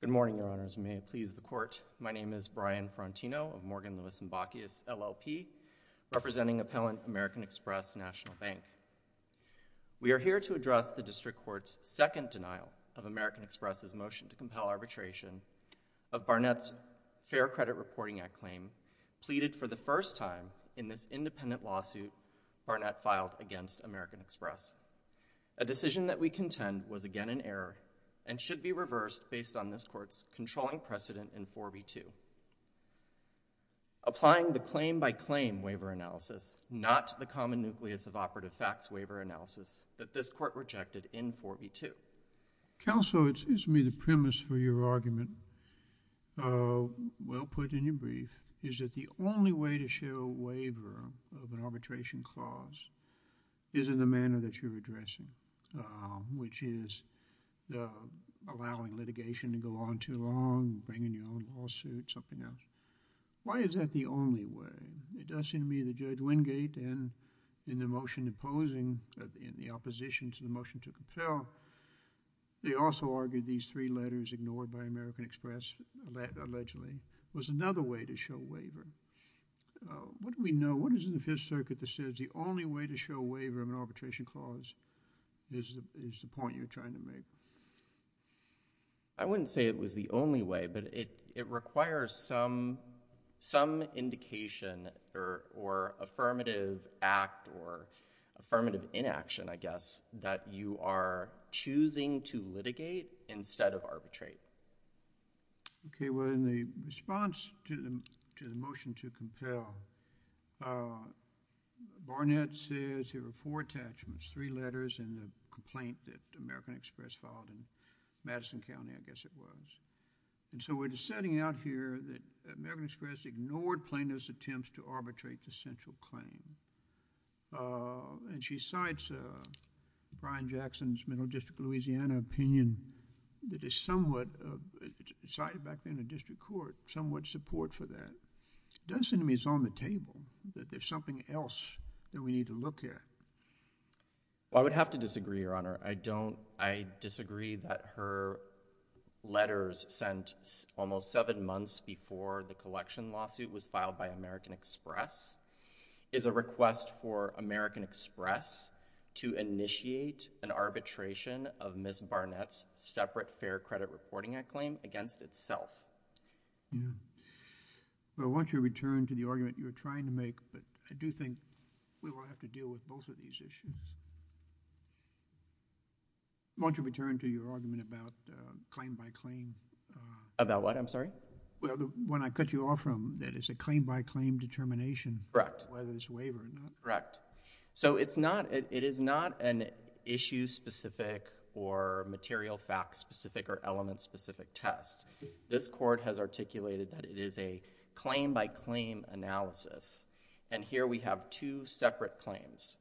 Good morning, Your Honors, and may it please the Court, my name is Brian Ferrantino of Morgan, Lewis & Bacchius, LLP, representing Appellant American Express National Bank. We are here to address the District Court's second denial of American Express' motion to compel arbitration of Barnett's Fair Credit Reporting Act claim, pleaded for the first time in this independent lawsuit Barnett filed against American Express. A decision that we contend was again an error and should be reversed based on this Court's controlling precedent in 4B2. Applying the claim-by-claim waiver analysis, not the common nucleus of operative facts waiver analysis that this Court rejected in 4B2. Counsel, it seems to me the premise for your argument, well put in your brief, is that the only way to show a waiver of an arbitration clause is in the manner that you're addressing, uh, which is, uh, allowing litigation to go on too long, bringing your own lawsuit, something else. Why is that the only way? It does seem to me that Judge Wingate in, in the motion imposing, in the opposition to the motion to compel, they also argued these three letters ignored by American Express allegedly, was another way to show waiver. Uh, what do we know, what is in the Fifth Circuit that says the only way to show a waiver of an arbitration clause is the, is the point you're trying to make? I wouldn't say it was the only way, but it, it requires some, some indication or, or affirmative act or affirmative inaction, I guess, that you are choosing to litigate instead of arbitrate. Okay. Well, in the response to the, to the motion to compel, uh, Barnett says there were four attachments, three letters in the complaint that American Express filed in Madison County, I guess it was. And so we're just setting out here that American Express ignored Plano's attempts to arbitrate the central claim, uh, and she cites, uh, Brian Jackson's Middle District of Louisiana opinion that is somewhat, uh, cited back then in the district court, somewhat support for that. It doesn't seem to me it's on the table, that there's something else that we need to look at. Well, I would have to disagree, Your Honor. I don't, I disagree that her letters sent almost seven months before the collection lawsuit was filed by American Express is a request for American Express to initiate an arbitration of Ms. Barnett's separate fair credit reporting act claim against itself. Yeah. Well, I want you to return to the argument you were trying to make, but I do think we will have to deal with both of these issues. I want you to return to your argument about, uh, claim by claim, uh... About what? I'm sorry? Well, the one I cut you off from, that is a claim by claim determination... Correct.... whether it's a waiver or not. Correct. So it's not, it is not an issue specific or material fact specific or element specific test. This court has articulated that it is a claim by claim analysis. And here we have two separate claims.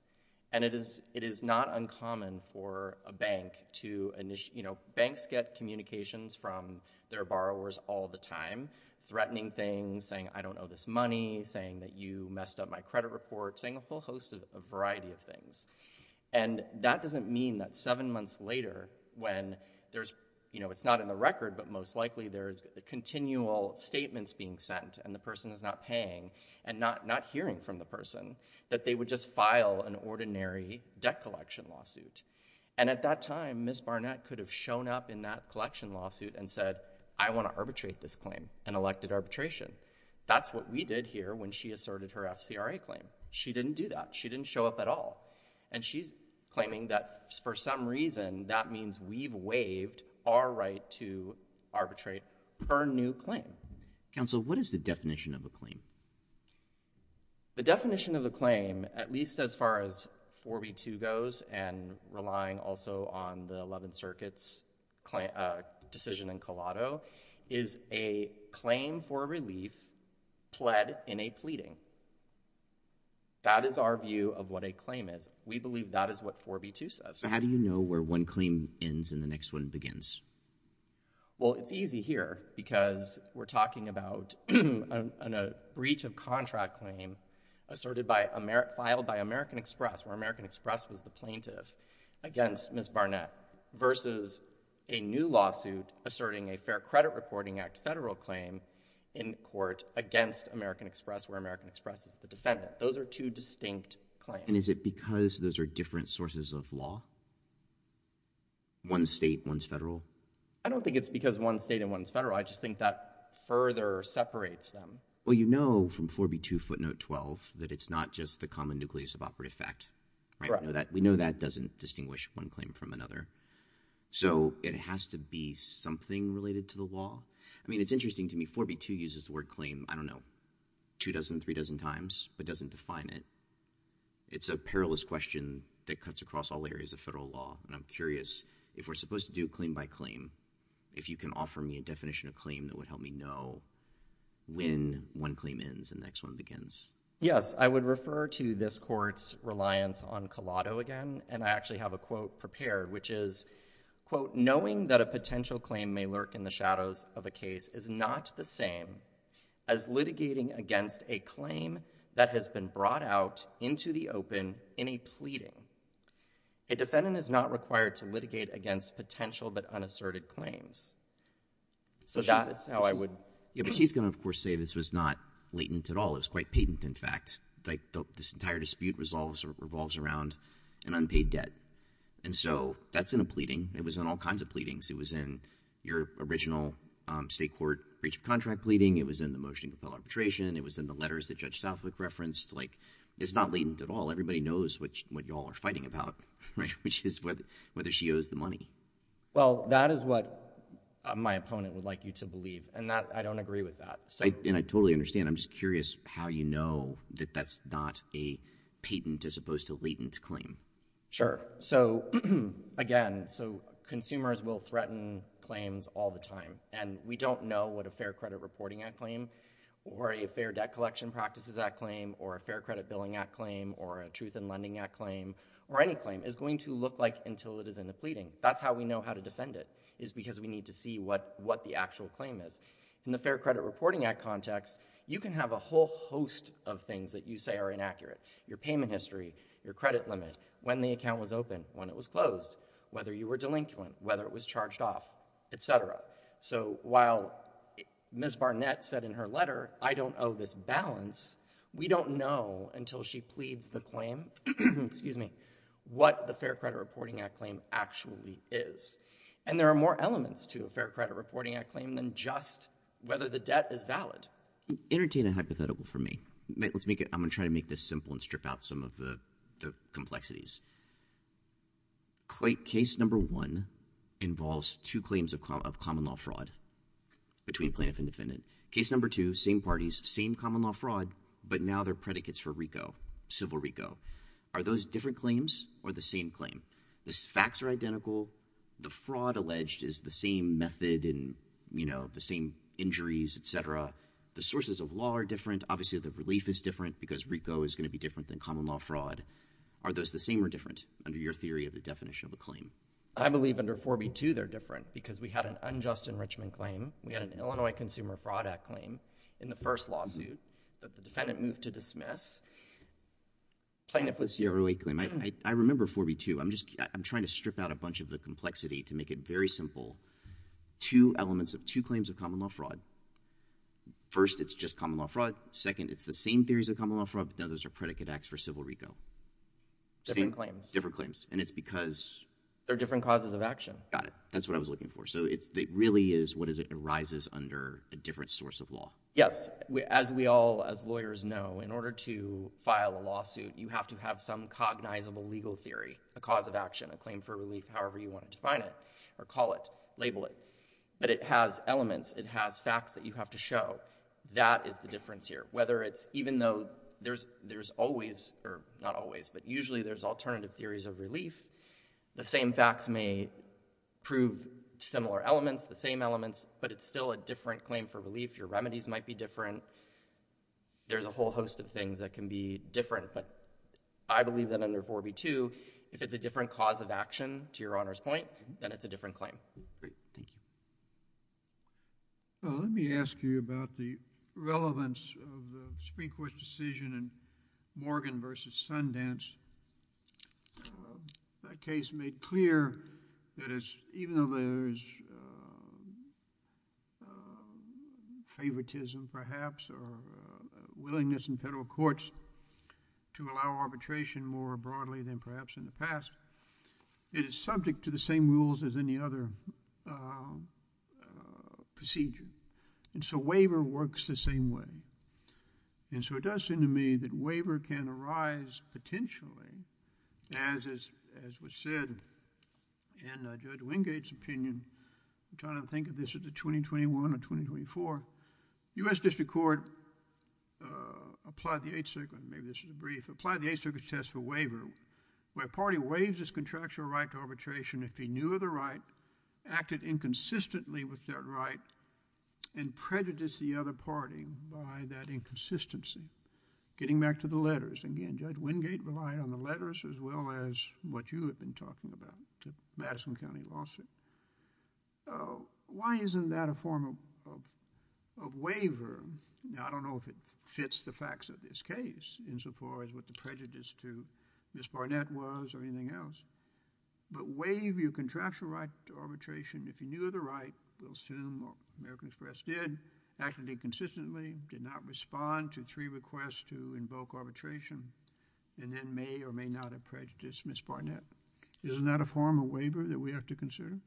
And it is, it is not uncommon for a bank to initiate, you know, banks get communications from their borrowers all the time, threatening things, saying, I don't owe this money, saying that you messed up my credit report, saying a whole host of, a variety of things. And that doesn't mean that seven months later, when there's, you know, it's not in the record, but most likely there's continual statements being sent, and the person is not paying, and not, not hearing from the person, that they would just file an ordinary debt collection lawsuit. And at that time, Ms. Barnett could have shown up in that collection lawsuit and said, I want to arbitrate this claim, and elected arbitration. That's what we did here when she asserted her FCRA claim. She didn't do that. She didn't show up at all. And she's claiming that for some reason, that means we've waived our right to arbitrate her new claim. Counsel, what is the definition of a claim? The definition of a claim, at least as far as 4B2 goes, and relying also on the Eleventh Brief, pled in a pleading. That is our view of what a claim is. We believe that is what 4B2 says. So how do you know where one claim ends and the next one begins? Well, it's easy here, because we're talking about a breach of contract claim, asserted by, filed by American Express, where American Express was the plaintiff, against Ms. Barnett, versus a new lawsuit asserting a Fair Credit Reporting Act federal claim in court against American Express, where American Express is the defendant. Those are two distinct claims. And is it because those are different sources of law? One state, one's federal? I don't think it's because one state and one's federal. I just think that further separates them. Well, you know from 4B2 footnote 12 that it's not just the common nucleus of operative fact. We know that doesn't distinguish one claim from another. So it has to be something related to the law. I mean, it's interesting to me, 4B2 uses the word claim, I don't know, two dozen, three dozen times, but doesn't define it. It's a perilous question that cuts across all areas of federal law. And I'm curious, if we're supposed to do claim by claim, if you can offer me a definition of claim that would help me know when one claim ends and the next one begins. Yes, I would refer to this court's reliance on collado again. And I actually have a quote prepared, which is, quote, knowing that a potential claim may lurk in the shadows of a case is not the same as litigating against a claim that has been brought out into the open in a pleading. A defendant is not required to litigate against potential but unasserted claims. So that is how I would. Yeah, but she's going to, of course, say this was not latent at all. It was quite patent, in fact. This entire dispute revolves around an unpaid debt. And so that's in a pleading. It was in all kinds of pleadings. It was in your original state court breach of contract pleading. It was in the motion to compel arbitration. It was in the letters that Judge Southwick referenced. It's not latent at all. Everybody knows what y'all are fighting about, which is whether she owes the money. Well, that is what my opponent would like you to believe. And I don't agree with that. And I totally understand. I'm just curious how you know that that's not a patent as opposed to latent claim. So again, consumers will threaten claims all the time. And we don't know what a Fair Credit Reporting Act claim or a Fair Debt Collection Practices Act claim or a Fair Credit Billing Act claim or a Truth in Lending Act claim or any claim is going to look like until it is in the pleading. That's how we know how to defend it is because we need to see what the actual claim is. In the Fair Credit Reporting Act context, you can have a whole host of things that you say are inaccurate. Your payment history, your credit limit, when the account was open, when it was closed, whether you were delinquent, whether it was charged off, et cetera. So while Ms. Barnett said in her letter, I don't owe this balance, we don't know until she pleads the claim, excuse me, what the Fair Credit Reporting Act claim actually is. And there are more elements to a Fair Credit Reporting Act claim than just whether the debt is valid. Entertain a hypothetical for me. I'm going to try to make this simple and strip out some of the complexities. Case number one involves two claims of common law fraud between plaintiff and Case number two, same parties, same common law fraud, but now they're predicates for RICO, civil RICO. Are those different claims or the same claim? The facts are identical. The fraud alleged is the same method and, you know, the same injuries, et cetera. The sources of law are different. Obviously, the relief is different because RICO is going to be different than common law fraud. Are those the same or different under your theory of the definition of a claim? I believe under 4B2, they're different because we had an unjust enrichment claim. We had an Illinois Consumer Fraud Act claim in the first lawsuit that the defendant moved to dismiss. Plaintiff was here. I remember 4B2. I'm trying to strip out a bunch of the complexity to make it very simple. Two elements of two claims of common law fraud. First, it's just common law fraud. Second, it's the same theories of common law fraud, but now those are predicate acts for civil RICO. Different claims. Different claims. And it's because... They're different causes of action. Got it. That's what I was looking for. So it really is what arises under a different source of law. Yes. As we all, as lawyers, know, in order to file a lawsuit, you have to have some cognizable legal theory, a cause of action, a claim for relief, however you want to define it or call it, label it. But it has elements. It has facts that you have to show. That is the difference here. Whether it's, even though there's always, or not always, but usually there's alternative theories of relief, the same facts may prove similar elements, the same elements, but it's still a different claim for relief. Your remedies might be different. There's a whole host of things that can be different. But I believe that under 4B2, if it's a different cause of action, to your Honor's point, then it's a different claim. Great. Thank you. Well, let me ask you about the relevance of the Supreme Court's decision in Morgan v. Sundance. That case made clear that it's, even though there's favoritism, perhaps, or willingness in federal courts to allow arbitration more broadly than perhaps in the past, it is subject to the same rules as any other procedure. And so, waiver works the same way. And so, it does seem to me that waiver can arise potentially as was said in Judge Wingate's opinion, I'm trying to think of this as a 2021 or 2024, U.S. District Court applied the Eighth Circuit, maybe this is a brief, applied the Eighth Circuit's test for waiver, where a party waives its contractual right to arbitration if he knew of the right, acted inconsistently with that right, and prejudiced the other party by that inconsistency. Getting back to the letters, again, Judge Wingate relied on the letters as well as what you have been talking about, the Madison County lawsuit. Why isn't that a form of, of, of waiver, I don't know if it fits the facts of this case insofar as what the prejudice to Ms. Barnett was or anything else, but waive your contractual right to arbitration if you knew of the right, we'll assume American Express did, acted inconsistently, did not respond to three requests to invoke arbitration, and then may or may not have prejudiced Ms. Barnett. Isn't that a form of waiver that we have to consider?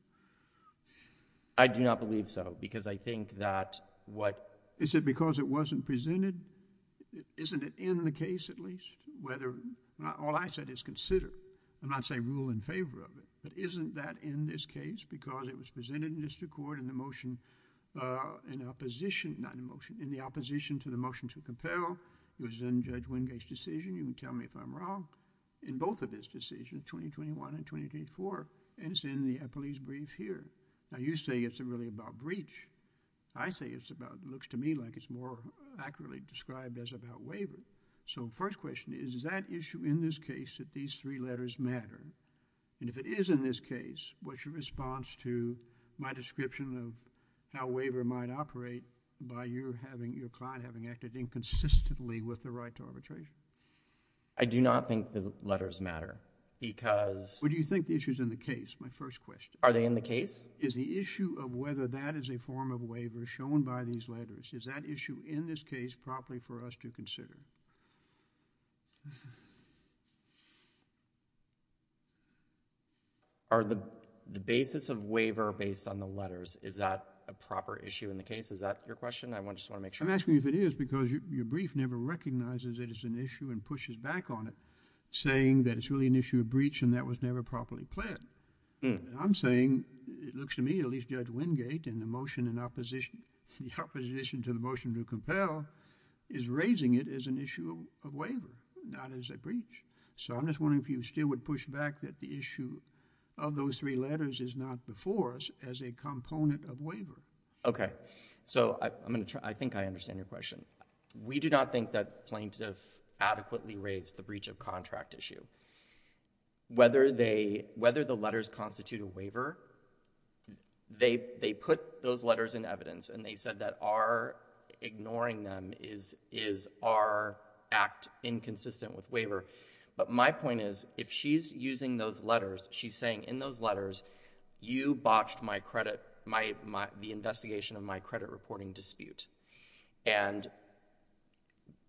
I do not believe so, because I think that what... Is it because it wasn't presented? Isn't it in the case at least, whether, all I said is consider, I'm not saying rule in favor of it, but isn't that in this case, because it was presented in the District Court in the motion, in opposition, not in the motion, in the opposition to the motion to compel, it was in Judge Wingate's decision, you can see it in 21 and 22 and 24, and it's in the police brief here. Now, you say it's really about breach. I say it's about, it looks to me like it's more accurately described as about waiver. So, first question is, is that issue in this case that these three letters matter? And if it is in this case, what's your response to my description of how waiver might operate by your client having acted inconsistently with the right to arbitration? I do not think the letters matter, because... What do you think the issue is in the case, my first question? Are they in the case? Is the issue of whether that is a form of waiver shown by these letters, is that issue in this case properly for us to consider? Are the basis of waiver based on the letters, is that a proper issue in the case? Is that your question? I just want to make sure. I'm asking you if it is, because your brief never recognizes it as an issue and pushes back on it, saying that it's really an issue of breach and that was never properly pled. I'm saying, it looks to me, at least Judge Wingate, in the motion in opposition to the motion to compel, is raising it as an issue of waiver, not as a breach. So, I'm just wondering if you still would push back that the issue of those three letters is not before us as a component of waiver. Okay. So, I think I understand your question. We do not think that plaintiff adequately raised the breach of contract issue. Whether the letters constitute a waiver, they put those letters in evidence and they said that our ignoring them is our act inconsistent with waiver. But my point is, if she's using those letters, she's saying in those letters, you botched the investigation of my credit reporting dispute. And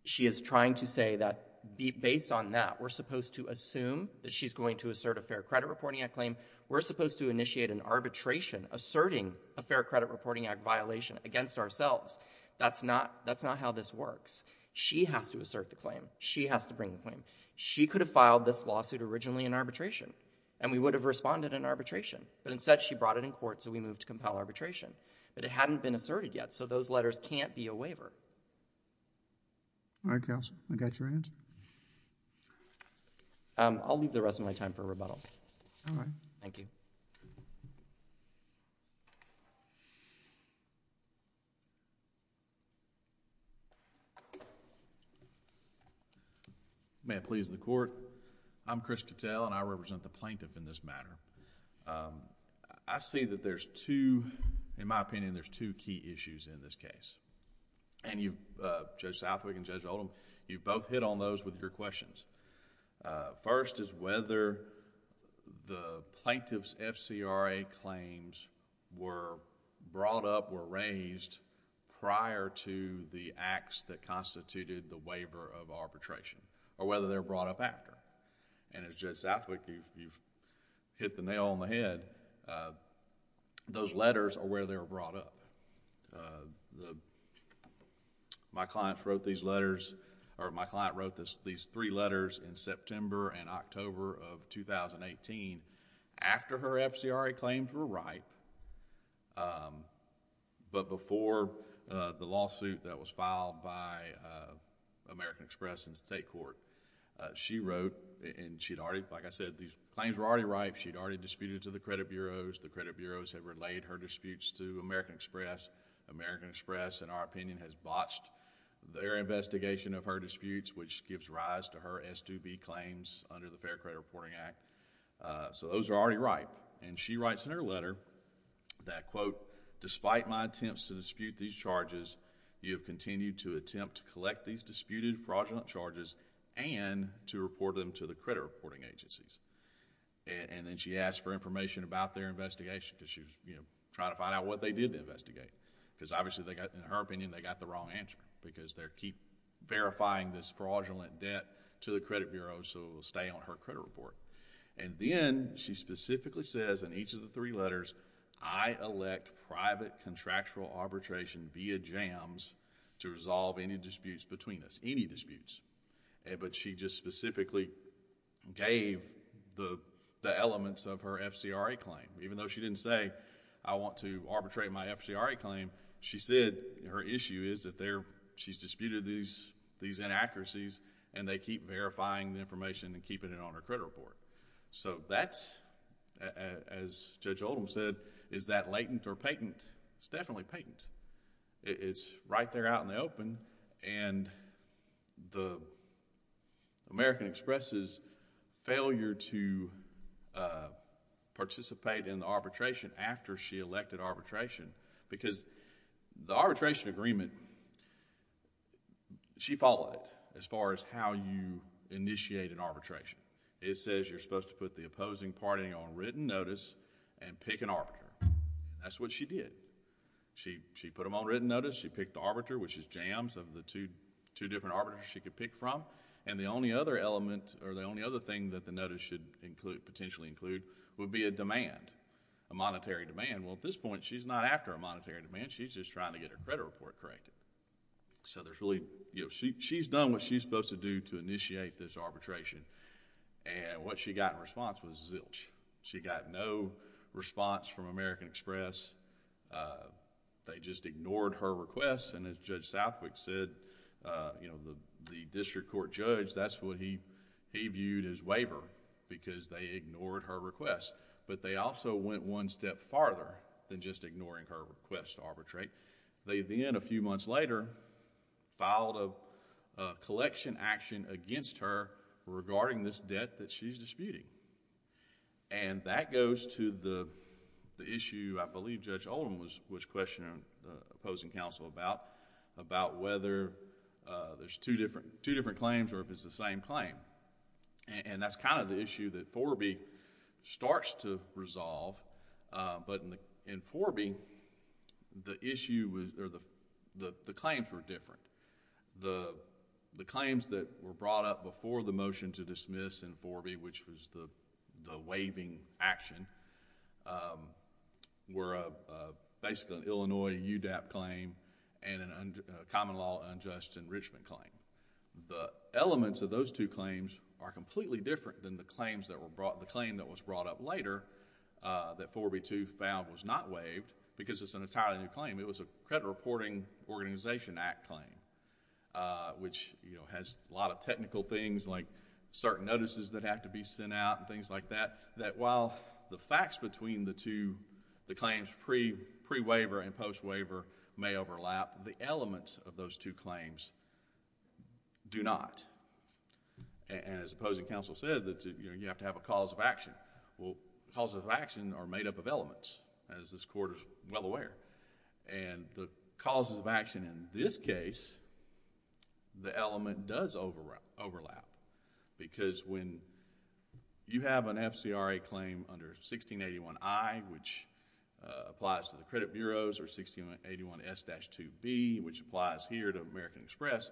she is trying to say that, based on that, we're supposed to assume that she's going to assert a Fair Credit Reporting Act claim, we're supposed to initiate an arbitration asserting a Fair Credit Reporting Act violation against ourselves. That's not how this works. She has to assert the claim. She has to bring the claim. She could have filed this lawsuit originally in arbitration, and we would have responded in arbitration. But instead, she brought it in court, so we moved to compel arbitration. But it hadn't been asserted yet, so those letters can't be a waiver. Alright, counsel. I got your answer. I'll leave the rest of my time for rebuttal. Alright. Thank you. May I please the court? I'm Chris Cattell and I represent the plaintiff in this matter. I see that there's two, in my opinion, there's two key issues in this case. And you, Judge Southwick and Judge Oldham, you both hit on those with your questions. First is whether the plaintiff's FCRA claims were brought up or raised prior to the acts that constituted the waiver of arbitration, or whether they're brought up after. And as Judge Southwick, you've hit the nail on the head. Those letters are where they were brought up. My client wrote these letters, or my client wrote these three letters in September and October of 2018, after her FCRA claims were right, but before the lawsuit that was filed by American Express in state court. She wrote, and she'd already, like I said, these claims were already She'd already disputed to the credit bureaus. The credit bureaus had relayed her disputes to American Express. American Express, in our opinion, has botched their investigation of her disputes, which gives rise to her S2B claims under the Fair Credit Reporting Act. So those are already right. And she writes in her letter that, quote, despite my attempts to dispute these charges, you have continued to attempt to collect these disputed fraudulent charges, and to report them to the credit reporting agencies. And then she asked for information about their investigation, because she was trying to find out what they did to investigate, because obviously, in her opinion, they got the wrong answer, because they keep verifying this fraudulent debt to the credit bureaus, so it will stay on her credit report. And then, she specifically says in each of the three letters, I elect private contractual arbitration via jams to resolve any disputes between us, any disputes. But she just specifically gave the elements of her FCRA claim, even though she didn't say, I want to arbitrate my FCRA claim, she said, her issue is that she's disputed these inaccuracies, and they keep verifying the information and keeping it on her credit report. So that's, as Judge Oldham said, is that latent or patent? It's definitely patent. It's right there out in the open, and the American Express's failure to participate in the arbitration after she elected arbitration, because the arbitration agreement, she followed it, as far as how you initiate an arbitration. It says you're supposed to put the opposing party on written notice and pick an arbiter. That's what she did. She put them on written notice. She picked the arbiter, which is jams of the two different arbiters she could pick from. And the only other element, or the only other thing that the notice should include, potentially include, would be a demand, a monetary demand. Well, at this point, she's not after a monetary demand. She's just trying to get her credit report corrected. So there's really, you know, she's done what she's supposed to do to initiate this arbitration, and what she got in response was zilch. She got no response from American Express. They just ignored her requests, and as Judge Southwick said, you know, the district court judge, that's what he viewed as waiver, because they ignored her requests, but they also went one step farther than just ignoring her requests to arbitrate. They then, a few months later, filed a collection action against her regarding this debt that she's disputing. And that goes to the issue, I believe, Judge Oldham was questioning the opposing counsel about, about whether there's two different claims or if it's the same claim. And that's kind of the issue that Forbee starts to resolve, but in Forbee, the issue was, or the claims were different. The claims that were brought up before the motion to dismiss in Forbee, which was the waiving action, were basically an Illinois UDAP claim and a common law unjust enrichment claim. The elements of those two claims are completely different than the claims that were brought, the claim that was brought up later, that Forbee too found was not waived, because it's an entirely new claim. It was a credit reporting organization act claim, which has a lot of technical things like certain notices that have to be sent out and things like that, that while the facts between the two, the claims pre-waiver and post-waiver may overlap, the elements of those two claims do not. And as opposing counsel said, you have to have a cause of action. Well, causes of action are made up of elements, as this Court is well aware. The causes of action in this case, the element does overlap, because when you have an FCRA claim under 1681I, which applies to the credit bureaus, or 1681S-2B, which applies here to American Express,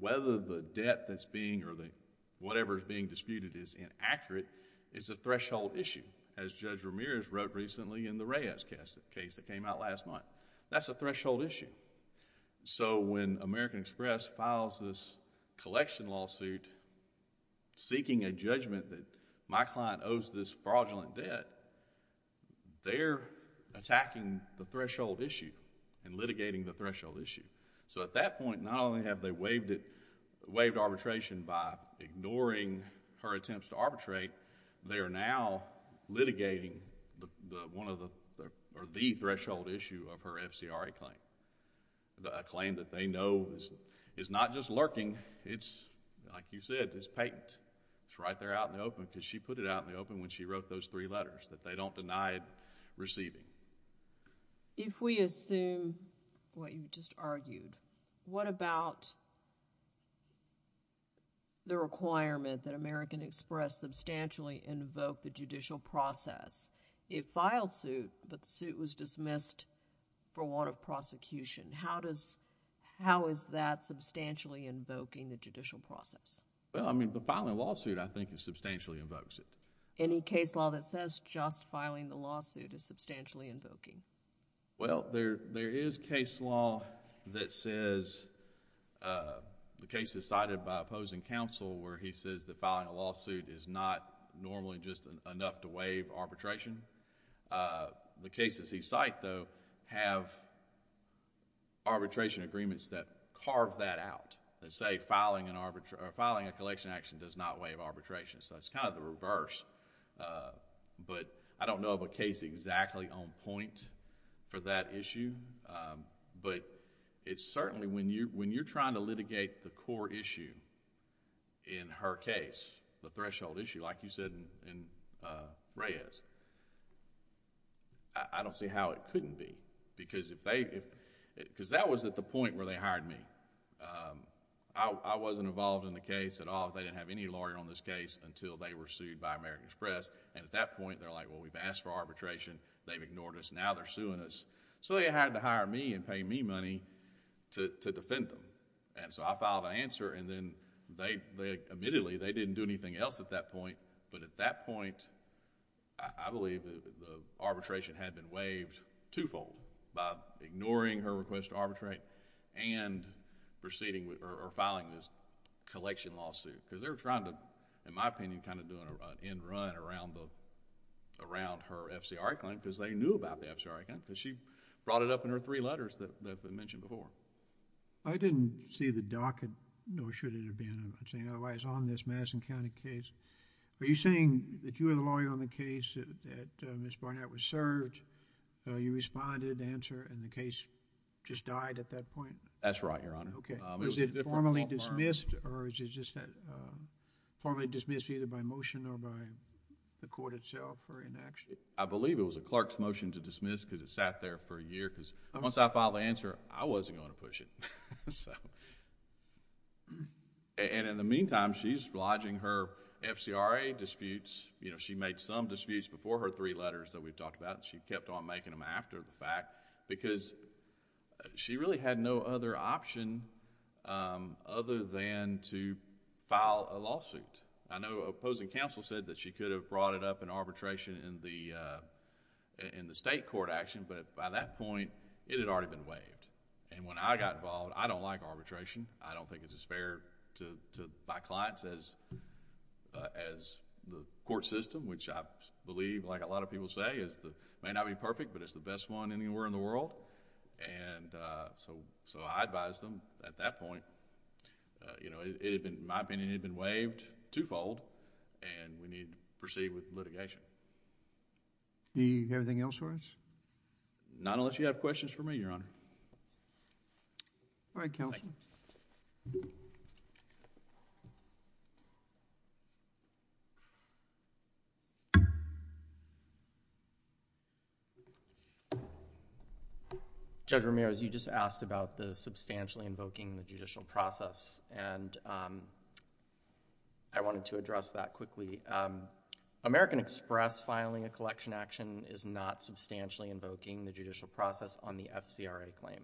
whether the debt that's being, or whatever is being disputed is inaccurate, is a threshold issue. As Judge Ramirez wrote recently in the Reyes case that came out last month, that's a threshold issue. So when American Express files this collection lawsuit, seeking a judgment that my client owes this fraudulent debt, they're attacking the threshold issue and litigating the threshold issue. So at that point, not only have they waived arbitration by ignoring her attempts to arbitrate, they are now litigating one of the, or the threshold issue of her FCRA claim, a claim that they know is not just lurking, it's, like you said, it's patent. It's right there out in the open, because she put it out in the open when she wrote those three letters, that they don't deny receiving. If we assume what you just argued, what about the requirement that American Express substantially invoke the judicial process? It filed suit, but the suit was dismissed for warrant of prosecution. How does, how is that substantially invoking the judicial process? Well, I mean, the filing of a lawsuit, I think, is substantially invokes it. Any case law that says just filing the lawsuit is substantially invoking? Well, there is case law that says, the case is cited by opposing counsel where he says that filing a lawsuit is not normally just enough to waive arbitration. The cases he cited, though, have arbitration agreements that carve that out and say filing an arbitration, filing a collection action does not waive arbitration. So it's kind of the reverse, but I don't know of a case exactly on point for that issue, but it's certainly, when you're trying to litigate the core issue in her case, the threshold issue, like you said in Reyes, I don't see how it couldn't be because if they... because that was at the point where they hired me. I wasn't involved in the case at all. They didn't have any lawyer on this case until they were sued by American Express, and at that point, they're like, well, we've asked for arbitration, they've ignored us, now they're suing us. So they had to hire me and pay me money to defend them. So I filed an answer, and then they... admittedly, they didn't do anything else at that point, but at that point, I believe the arbitration had been waived twofold by ignoring her request to arbitrate and proceeding or filing this collection lawsuit. Because they were trying to, in my opinion, kind of do an end run around her FCRA claim because they knew about the FCRA claim because she brought it up in her three letters that have been mentioned before. I didn't see the docket, nor should it have been, otherwise, on this Madison County case. Are you saying if you were the lawyer on the case that Ms. Barnett was served, you responded to the answer and the case just died at that point? That's right, Your Honor. Okay. Was it formally dismissed or is it just formally dismissed either by motion or by the court itself or inaction? I believe it was a clerk's motion to dismiss because it sat there for a year because once I filed the answer, I wasn't going to push it. In the meantime, she's lodging her FCRA disputes. She made some disputes before her three letters that we've talked about. She kept on making them after the fact because she really had no other option other than to file a lawsuit. I know opposing counsel said that she could have brought it up in arbitration in the state court action, but by that point, it had already been waived. When I got involved, I don't like arbitration. I don't think it's as fair to my clients as the court system, which I believe, like a lot of people say, may not be perfect, but it's the best one anywhere in the world. I advised them at that point. In my opinion, it had been waived twofold and we need to proceed with Do you have anything else for us? Not unless you have questions for me, Your Honor. All right, counsel. Judge Ramirez, you just asked about the substantially invoking the judicial process and I wanted to address that quickly. American Express filing a collection action is not substantially invoking the judicial process on the FCRA claim.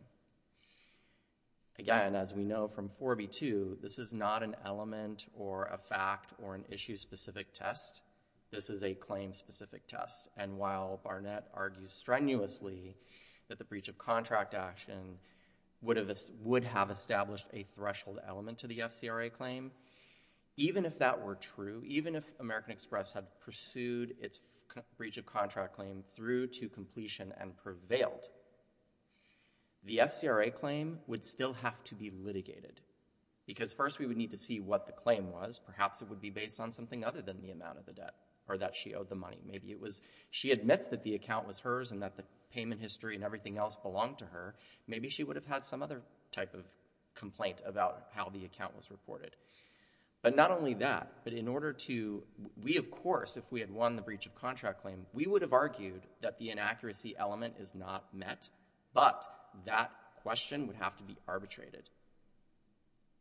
Again, as we know from 4B2, this is not an element or a fact or an issue-specific test. This is a claim-specific test and while Barnett argues strenuously that the breach of contract action would have established a threshold element to the breach of contract claim through to completion and prevailed, the FCRA claim would still have to be litigated because first we would need to see what the claim was. Perhaps it would be based on something other than the amount of the debt or that she owed the money. Maybe it was she admits that the account was hers and that the payment history and everything else belonged to her. Maybe she would have had some other type of complaint about how the account was reported. But not only that, but in order to, we of course, if we had won the breach of contract claim, we would have argued that the inaccuracy element is not met, but that question would have to be arbitrated.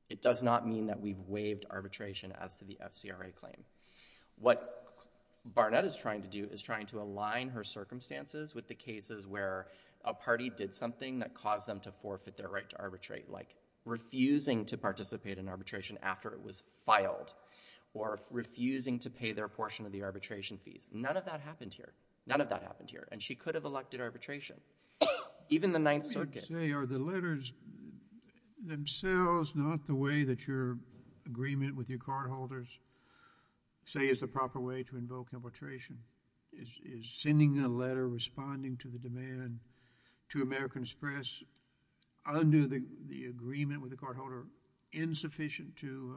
It does not mean that we've waived arbitration as to the FCRA claim. What Barnett is trying to do is trying to align her circumstances with the cases where a party did something that caused them to forfeit their right to arbitrate, like refusing to participate in arbitration after it was filed or refusing to pay their portion of the arbitration fees. None of that happened here. None of that happened here. And she could have elected arbitration. Even the Ninth Circuit... Let me just say, are the letters themselves not the way that your agreement with your cardholders say is the proper way to invoke arbitration? Is sending a letter responding to the demand to American Express under the agreement with the cardholder insufficient to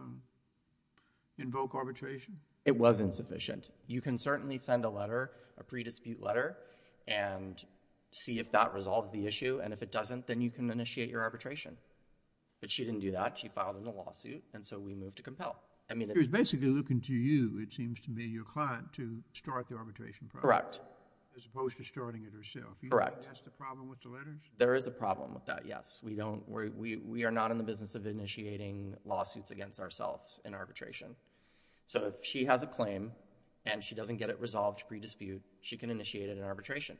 invoke arbitration? It was insufficient. You can certainly send a letter, a pre-dispute letter, and see if that resolves the issue, and if it doesn't, then you can initiate your arbitration. But she didn't do that. She filed a lawsuit, and so we moved to compel. I mean... So she was basically looking to you, it seems to me, your client, to start the arbitration process... Correct.... as opposed to starting it herself. Correct. You don't think that's the problem with the letters? There is a problem with that, yes. We are not in the business of initiating lawsuits against ourselves in arbitration. So if she has a claim, and she doesn't get it resolved pre-dispute, she can initiate it in arbitration.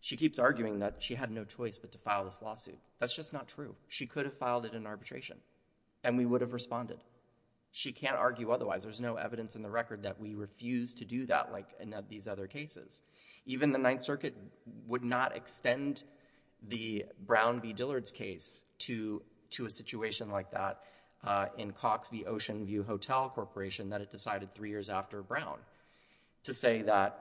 She keeps arguing that she had no choice but to file this lawsuit. That's just not true. She could have filed it in arbitration, and we would have responded. She can't argue otherwise. There is no evidence in the record that we refused to do that like in these other cases. Even the Ninth Circuit would not extend the Brown v. Dillard's case to a situation like that in Cox v. Oceanview Hotel Corporation that it decided three years after Brown to say that,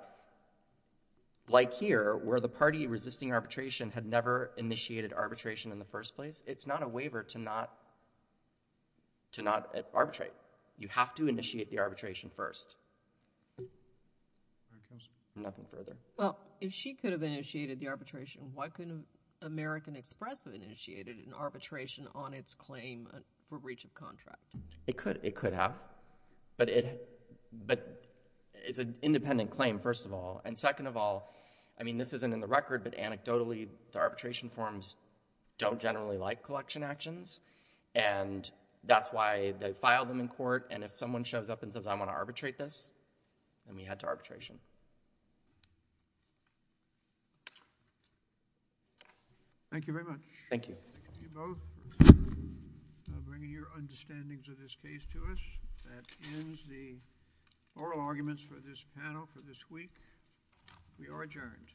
like here, where the party resisting arbitration had never initiated arbitration in the first place, it's not a waiver to not arbitrate. You have to initiate the arbitration first. Nothing further. Well, if she could have initiated the arbitration, why couldn't American Express have initiated an arbitration on its claim for breach of contract? It could. It could have. But it's an independent claim, first of all. And second of all, I mean, this isn't in the record, but anecdotally the arbitration forms don't generally like collection actions. And that's why they filed them in court. And if someone shows up and says, I'm going to arbitrate this, then we head to arbitration. Thank you very much. Thank you. Thank you both for bringing your understandings of this case to us. That ends the oral arguments for this panel for this week. We are adjourned. Thank you. Thank you.